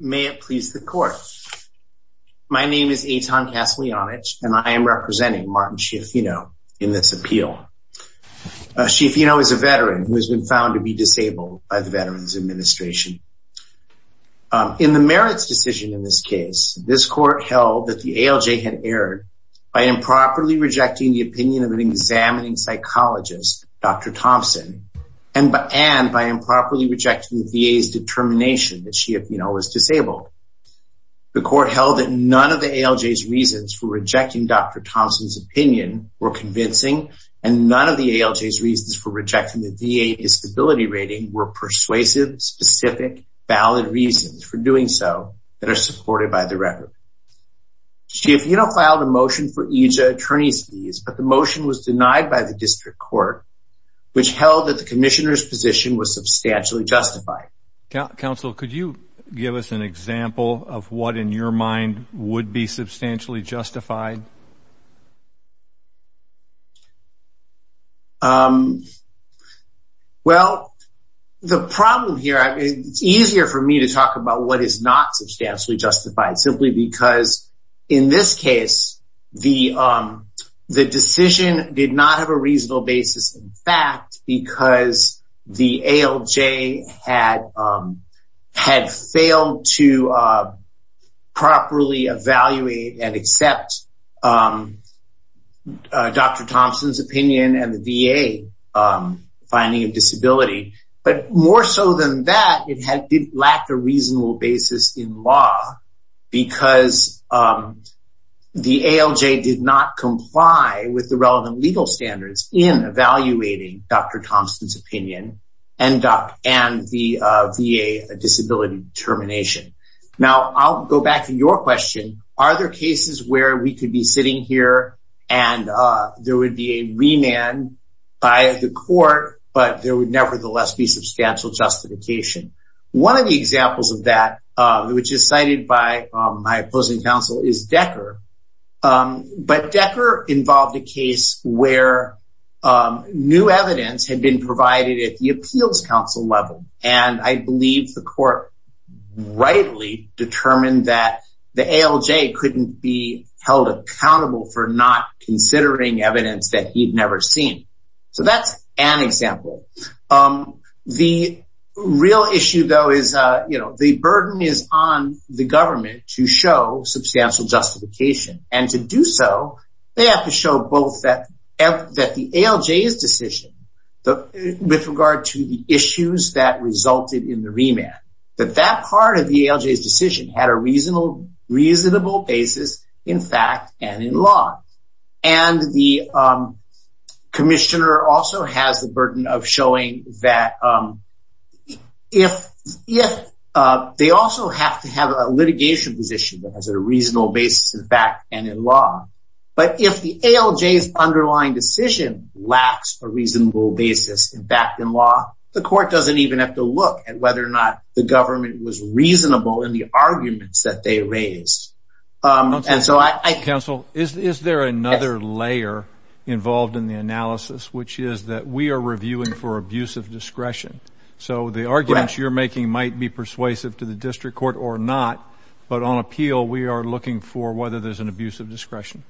May it please the court. My name is Eitan Kaslianich and I am representing Martin Schiaffino in this appeal. Schiaffino is a veteran who has been found to be disabled by the Veterans Administration. In the merits decision in this case, this court held that the ALJ had erred by improperly rejecting the opinion of an examining psychologist, Dr. Thompson, and by improperly rejecting the VA's determination that Schiaffino was disabled. The court held that none of the ALJ's reasons for rejecting Dr. Thompson's opinion were convincing and none of the ALJ's reasons for rejecting the VA's disability rating were persuasive, specific, valid reasons for doing so that are supported by the record. Schiaffino filed a motion for EJIA attorney's fees but the motion was denied by the district court which held that the Commissioner's position was substantially justified. Counselor, could you give us an example of what in your mind would be substantially justified? Well, the problem here, it's easier for me to talk about what is not substantially justified simply because in this case the decision did not have a reasonable basis in fact because the ALJ had had failed to properly evaluate and accept Dr. Thompson's opinion and the VA finding of disability but more so than that it had lacked a reasonable basis in law because the ALJ did not comply with the relevant legal standards in evaluating Dr. Thompson's opinion and the VA disability determination. Now I'll go back to your question, are there cases where we could be sitting here and there would be a remand by the court but there would nevertheless be substantial justification? One of the examples of that which is cited by my opposing counsel is Decker but Decker involved a case where new evidence had been provided at the Appeals Council level and I believe the court rightly determined that the ALJ couldn't be held accountable for not considering evidence that he'd never seen so that's an example. The real issue though is you have to convince the government to show substantial justification and to do so they have to show both that the ALJ's decision but with regard to the issues that resulted in the remand that that part of the ALJ's decision had a reasonable basis in fact and in law and the Commissioner also has the reasonable basis in fact and in law but if the ALJ's underlying decision lacks a reasonable basis in fact in law the court doesn't even have to look at whether or not the government was reasonable in the arguments that they raised. Counsel, is there another layer involved in the analysis which is that we are reviewing for abuse of discretion so the arguments you're persuasive to the district court or not but on appeal we are looking for whether there's an abuse of discretion.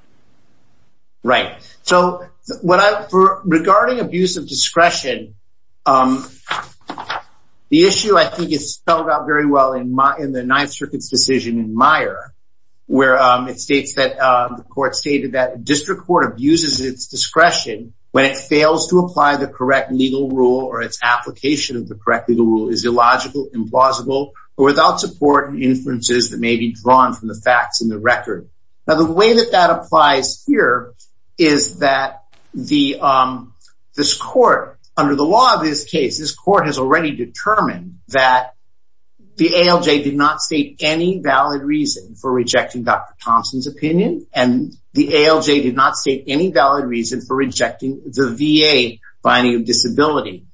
Right so what I for regarding abuse of discretion the issue I think is spelled out very well in my in the Ninth Circuit's decision in Meyer where it states that the court stated that district court abuses its discretion when it fails to apply the correct legal rule or its application of the correct legal rule is illogical implausible or without support and inferences that may be drawn from the facts in the record. Now the way that that applies here is that the this court under the law of this case this court has already determined that the ALJ did not state any valid reason for rejecting Dr. Thompson's opinion and the ALJ did not state any valid reason for rejecting Dr. Thompson's opinion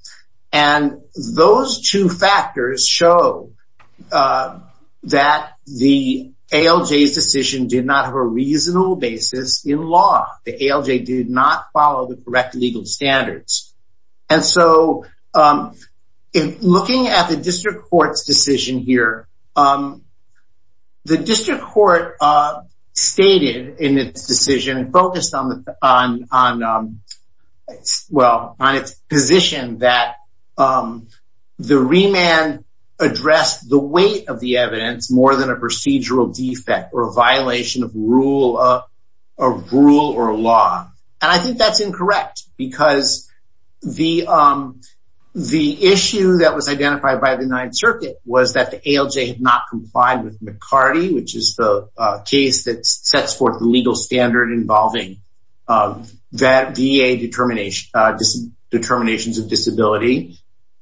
and those two factors show that the ALJ's decision did not have a reasonable basis in law. The ALJ did not follow the correct legal standards and so in looking at the district court's decision here the district court stated in its decision and focused on well on its position that the remand addressed the weight of the evidence more than a procedural defect or a violation of rule of rule or law and I think that's incorrect because the the issue that was identified by the Ninth Circuit was that the ALJ had not complied with McCarty which is the case that sets forth the legal standard involving that DEA determination just determinations of disability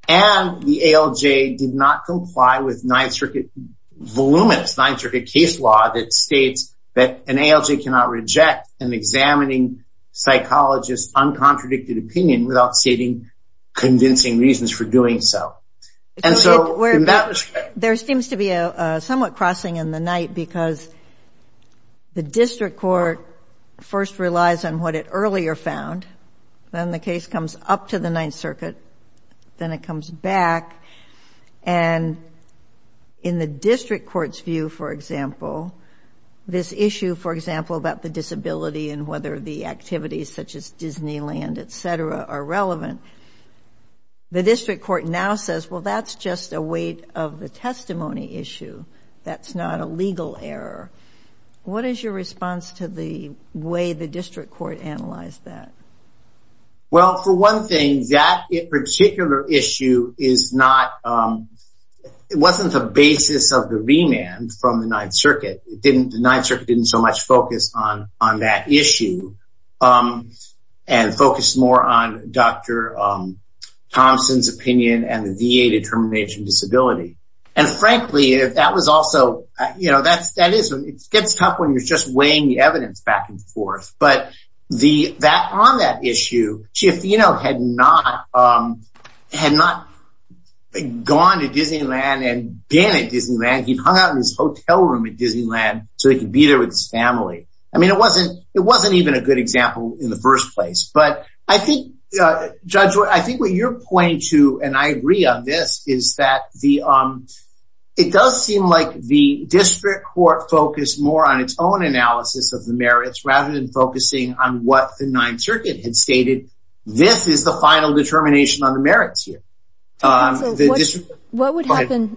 and the ALJ did not comply with Ninth Circuit voluminous Ninth Circuit case law that states that an ALJ cannot reject an examining psychologist uncontradicted opinion without stating convincing reasons for doing so and so where that was there seems to be a somewhat crossing in the night because the district court first relies on what it earlier found then the case comes up to the Ninth Circuit then it comes back and in the district court's view for example this issue for example about the disability and whether the activities such as Disneyland etc are relevant the that's not a legal error what is your response to the way the district court analyzed that well for one thing that particular issue is not it wasn't the basis of the remand from the Ninth Circuit didn't the Ninth Circuit didn't so much focus on on that issue and focus more on dr. Thompson's opinion and the also you know that's that is it gets tough when you're just weighing the evidence back and forth but the that on that issue she if you know had not had not gone to Disneyland and being at Disneyland he hung out in his hotel room at Disneyland so he could be there with his family I mean it wasn't it wasn't even a good example in the first place but I think judge what I think what your point to and I agree on this is that the arm it does seem like the district court focus more on its own analysis of the merits rather than focusing on what the Ninth Circuit had stated this is the final determination on the merits here what would happen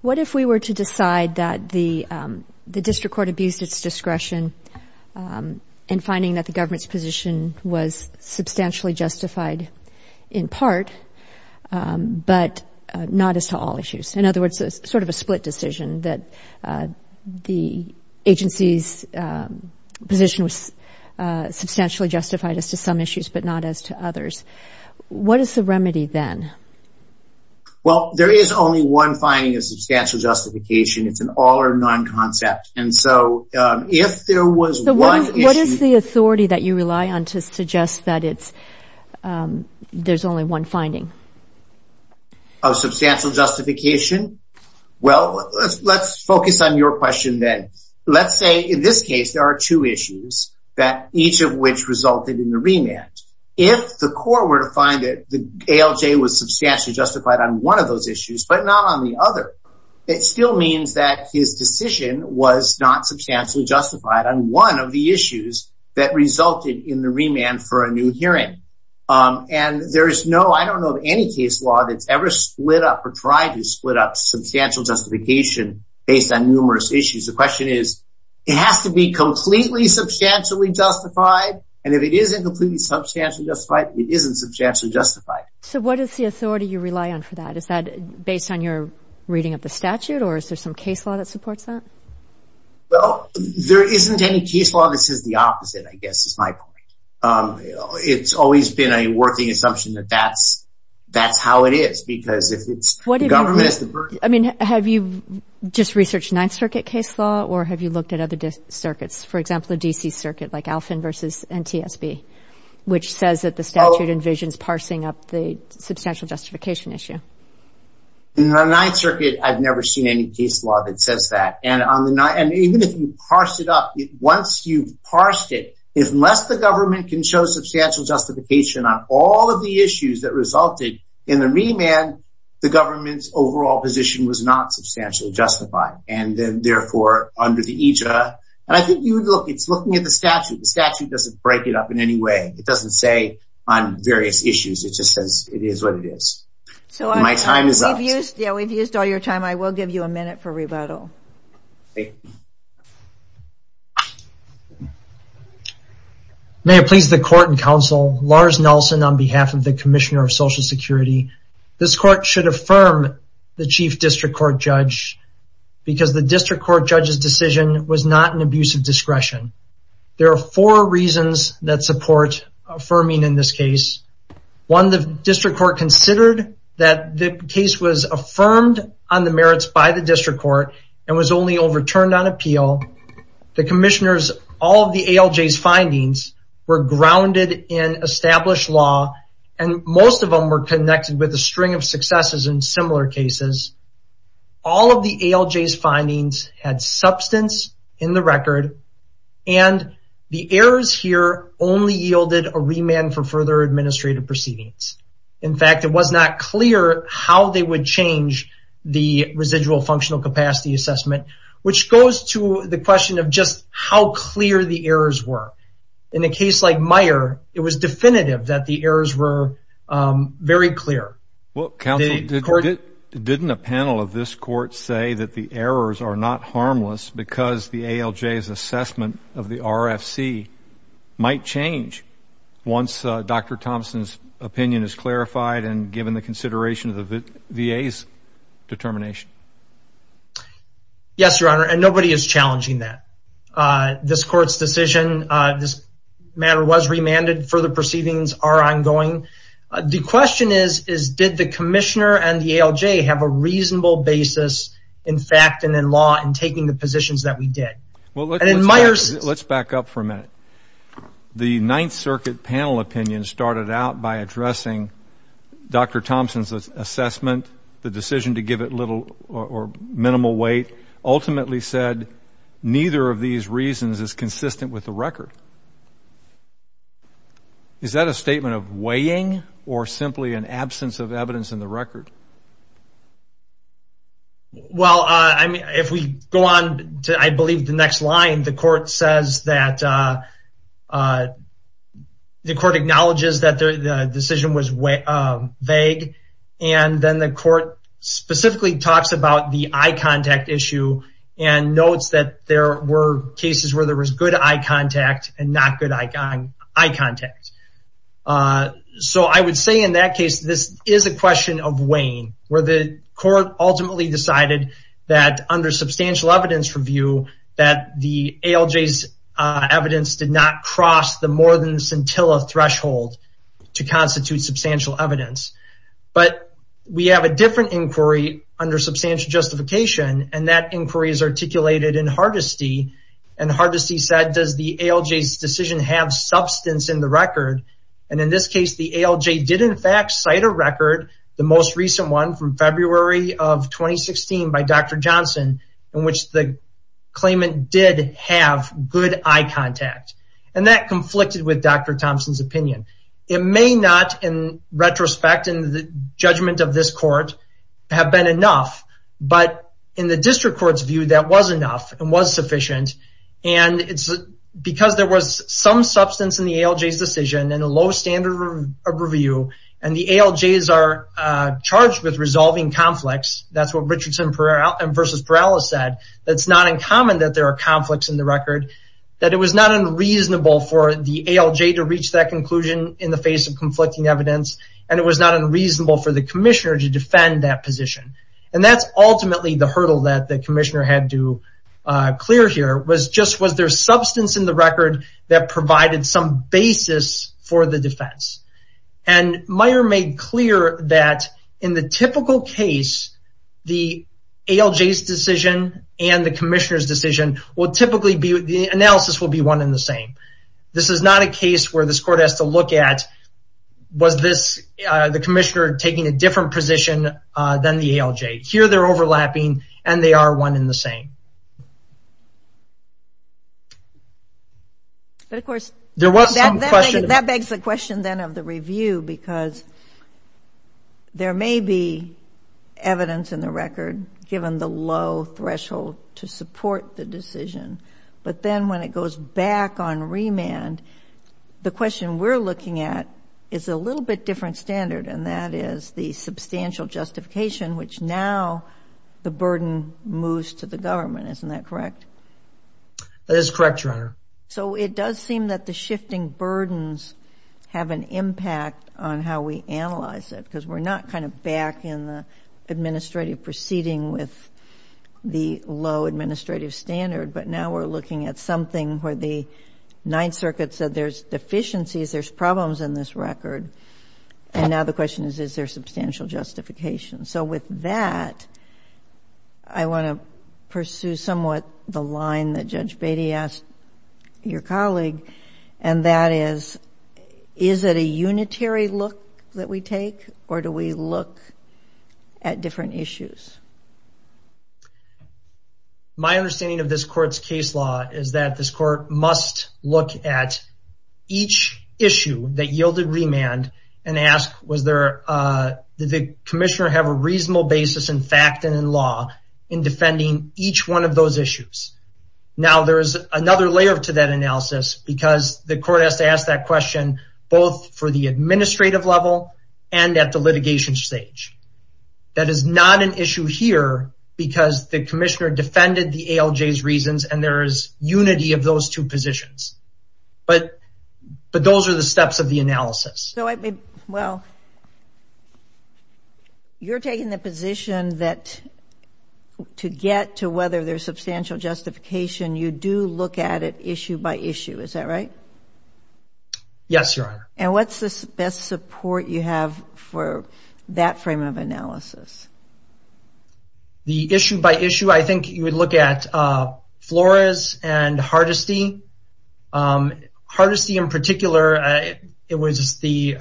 what if we were to decide that the the district court abused its discretion and finding that the government's position was substantially justified in part but not as to all issues in other words sort of a split decision that the agency's position was substantially justified as to some issues but not as to others what is the remedy then well there is only one finding a substantial justification it's an all or none concept and so if there was one what is the authority that you rely on to suggest that it's there's only one finding a substantial justification well let's focus on your question then let's say in this case there are two issues that each of which resulted in the remand if the court were to find it the ALJ was substantially justified on one of those issues but not on the other it still means that his justified on one of the issues that resulted in the remand for a new hearing and there is no I don't know of any case law that's ever split up or tried to split up substantial justification based on numerous issues the question is it has to be completely substantially justified and if it isn't completely substantially justified it isn't substantial justified so what is the authority you rely on for that is that based on your reading of the statute or is there some case law that supports that well there isn't any case law this is the opposite I guess it's my point it's always been a working assumption that that's that's how it is because if it's what I mean have you just researched Ninth Circuit case law or have you looked at other circuits for example the DC Circuit like Alfin versus NTSB which says that the statute envisions parsing up the substantial justification issue the Ninth Circuit I've never seen any case law that says that and on the night and even if you parse it up once you've parsed it if unless the government can show substantial justification on all of the issues that resulted in the remand the government's overall position was not substantial justified and then therefore under the IJA and I think you look it's looking at the statute the statute doesn't break it up in any way it doesn't say on various issues it just says it is what it is so we've used all your time I will give you a minute for rebuttal. May it please the court and counsel Lars Nelson on behalf of the Commissioner of Social Security this court should affirm the chief district court judge because the district court judge's decision was not an abuse of discretion there are four reasons that support affirming in this case one the district court considered that the case was affirmed on the merits by the district court and was only overturned on appeal the commissioners all of the ALJ's findings were grounded in established law and most of them were connected with a string of successes in similar cases all of the ALJ's findings had substance in the record and the errors here only yielded a remand for further administrative proceedings in fact it was not clear how they would change the residual functional capacity assessment which goes to the question of just how clear the errors were in a case like Meijer it was definitive that the errors were very clear. Well counsel didn't a panel of this court say that the errors are not harmless because the ALJ's assessment of the RFC might change once Dr. Thompson's opinion is clarified and given the consideration of the VA's determination. Yes your honor and nobody is challenging that this court's decision this matter was remanded further proceedings are ongoing the question is is did the commissioner and the ALJ have a reasonable basis in fact and in law in taking the positions that we did. Well let's back up for a the Ninth Circuit panel opinion started out by addressing Dr. Thompson's assessment the decision to give it little or minimal weight ultimately said neither of these reasons is consistent with the record. Is that a statement of weighing or simply an absence of evidence in the record? Well I mean if we go on to I believe the next line the court says that the court acknowledges that the decision was vague and then the court specifically talks about the eye contact issue and notes that there were cases where there was good eye contact and not good eye contact. So I would say in that case this is a decided that under substantial evidence review that the ALJ's evidence did not cross the more than scintilla threshold to constitute substantial evidence but we have a different inquiry under substantial justification and that inquiry is articulated in Hardesty and Hardesty said does the ALJ's decision have substance in the record and in this case the ALJ did in fact cite a record the most recent one from February of 2016 by Dr. Johnson in which the claimant did have good eye contact and that conflicted with Dr. Thompson's opinion. It may not in retrospect in the judgment of this court have been enough but in the district courts view that was enough and was sufficient and it's because there was some substance in the ALJ's decision and a low standard of and the ALJ's are charged with resolving conflicts that's what Richardson versus Perala said that's not in common that there are conflicts in the record that it was not unreasonable for the ALJ to reach that conclusion in the face of conflicting evidence and it was not unreasonable for the Commissioner to defend that position and that's ultimately the hurdle that the Commissioner had to clear here was just was there substance in the record that provided some basis for the defense and Meyer made clear that in the typical case the ALJ's decision and the Commissioner's decision will typically be the analysis will be one in the same this is not a case where this court has to look at was this the Commissioner taking a different position than the ALJ here they're overlapping and they are one in the same but of course there was that begs the question then of the review because there may be evidence in the record given the low threshold to support the decision but then when it goes back on remand the question we're looking at is a little bit different standard and that is the substantial justification which now the burden moves to the government isn't that correct that is correct your honor so it does seem that the shifting burdens have an impact on how we analyze it because we're not kind of back in the administrative proceeding with the low administrative standard but now we're looking at something where the Ninth Circuit said there's deficiencies there's problems in this record and now the question is is there substantial justification so with that I want to pursue somewhat the line that Judge Beatty asked your colleague and that is is it a unitary look that we take or do we look at different issues my understanding of this court's case law is that this court must look at each issue that yielded remand and ask was there did the commissioner have a reasonable basis in fact and in law in defending each one of those issues now there is another layer to that analysis because the court has to ask that question both for the administrative level and at the litigation stage that is not an issue here because the commissioner defended the ALJ's reasons and there is unity of those two positions but but those are the steps of the analysis so I mean well you're taking the position that to get to whether there's substantial justification you do look at it issue by issue is that right yes your honor and what's the best support you have for that frame of analysis the issue by issue I think you would look at Flores and Hardesty Hardesty in particular it was the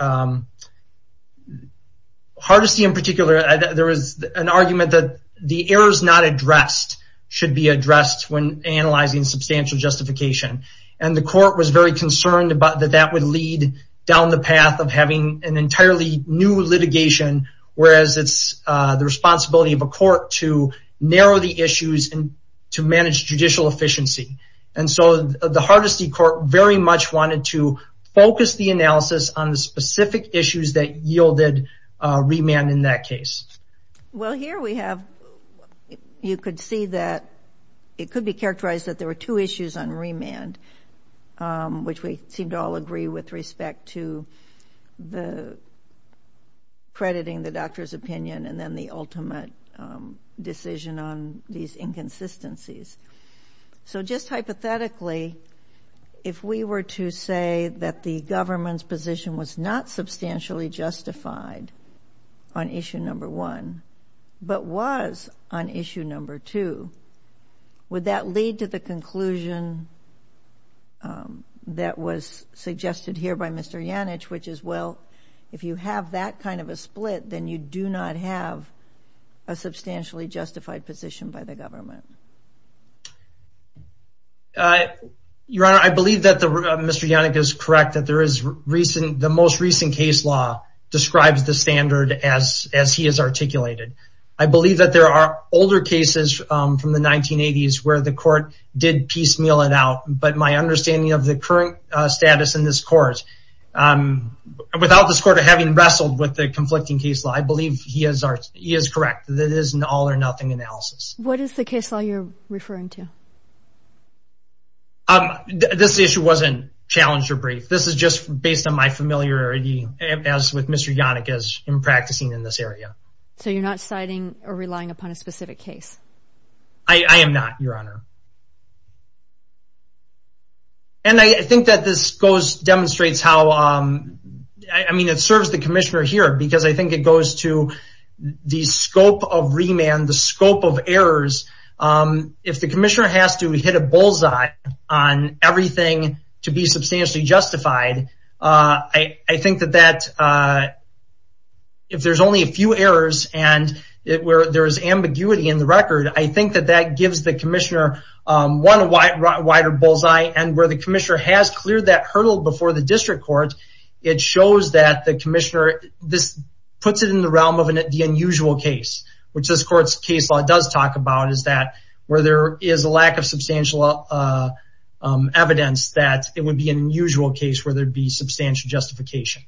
Hardesty in particular there was an argument that the errors not addressed should be addressed when analyzing substantial justification and the court was very concerned about that that would lead down the path of having an entirely new litigation whereas it's the responsibility of a court to narrow the issues and to manage judicial efficiency and so the Hardesty court very much wanted to focus the analysis on the specific issues that yielded remand in that case well here we have you could see that it could be characterized that there were two issues on remand which we seemed to all agree with respect to the crediting the inconsistencies so just hypothetically if we were to say that the government's position was not substantially justified on issue number one but was on issue number two would that lead to the conclusion that was suggested here by Mr. Yannich which is well if you have that kind of a split then you do not have a substantially justified position by the government. I believe that the Mr. Yannich is correct that there is recent the most recent case law describes the standard as as he has articulated I believe that there are older cases from the 1980s where the court did piecemeal it out but my understanding of the current status in this court without this court having wrestled with the conflicting case law I believe he is correct that it is an all-or-nothing analysis. What is the case law you're referring to? This issue wasn't challenged or brief this is just based on my familiarity as with Mr. Yannich as in practicing in this area. So you're not citing or relying upon a specific case? I am NOT your honor and I think that this goes demonstrates how I mean it serves the Commissioner here because I think it goes to the scope of remand the scope of errors if the Commissioner has to hit a bullseye on everything to be substantially justified I think that that if there's only a few errors and it where there is ambiguity in the record I think that that gives the Commissioner one wider bullseye and where the Commissioner has cleared that hurdle before the district court it shows that the Commissioner this puts it in the realm of an unusual case which this court's case law does talk about is that where there is a lack of substantial evidence that it would be an unusual case where there'd be substantial justification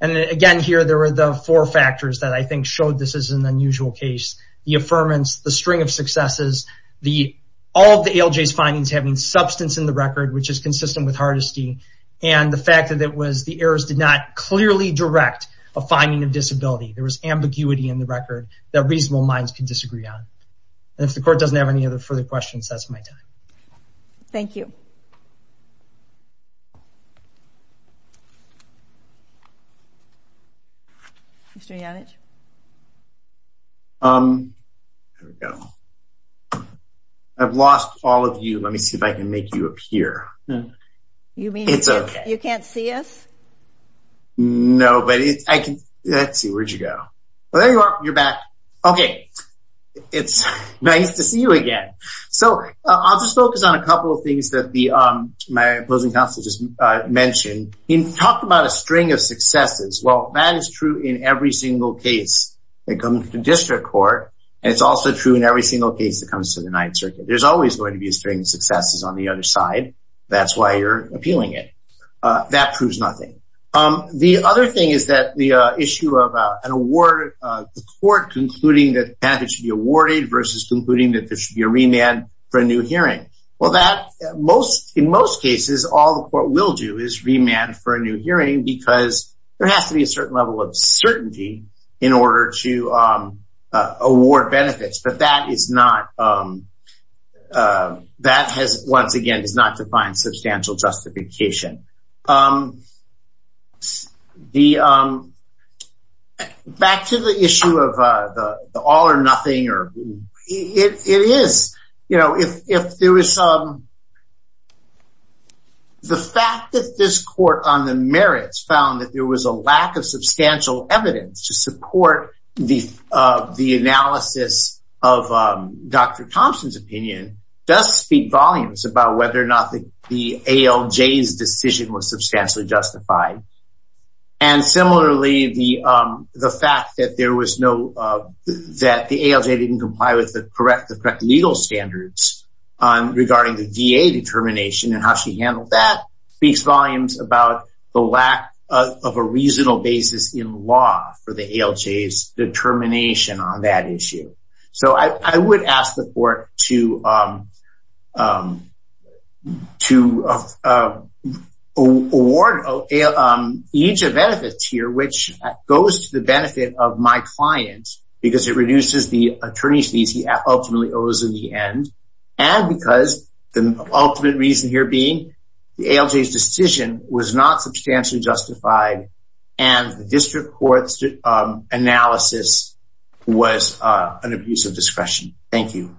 and again here there were the four factors that I think showed this is an unusual case the affirmance the string of successes the all the ALJ's findings having substance in the record which is consistent with Hardesty and the fact that it was the errors did not clearly direct a finding of disability there was ambiguity in the record that reasonable minds can disagree on if the court doesn't have any other further questions that's my time. Thank you. I've lost all of you let me see if I can make you appear you mean it's a you can't see us no but it's I can let's see where'd you go well there you are you're back okay it's nice to see you again so I'll just focus on a couple of things that the my opposing counsel just mentioned he talked about a string of successes well that is true in every single case that comes to district court it's also true in every single case that comes to the Ninth Circuit there's always going to be a string of successes on the other side that's why you're appealing it that proves nothing um the other thing is that the issue of an award the court concluding that that it should be awarded versus concluding that there should be a remand for a new hearing well that most in most cases all the court will do is remand for a new hearing because there has to be a certain level of certainty in order to award benefits but that is not that has once again does not define substantial justification the back to the issue of the all or nothing or it is you know if there is some the fact that this court on the merits found that there was a lack of substantial evidence to support the the analysis of dr. Thompson's opinion does speak volumes about whether or not the ALJ's decision was substantially justified and similarly the the fact that there was no that the ALJ didn't comply with the correct the correct legal standards on regarding the VA determination and how she handled that speaks volumes about the lack of a reasonable basis in law for the ALJ's determination on that issue so I would ask the court to to award each of the benefits here which goes to the benefit of my clients because it reduces the attorney's fees he ultimately owes in the end and because the ultimate reason here being the ALJ's decision was not substantially justified and the district court's analysis was an abuse of discretion thank you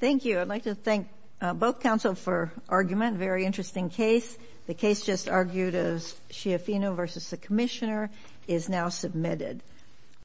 thank you I'd like to thank both counsel for argument very interesting case the case just argued as Schiaffino versus the commissioner is now submitted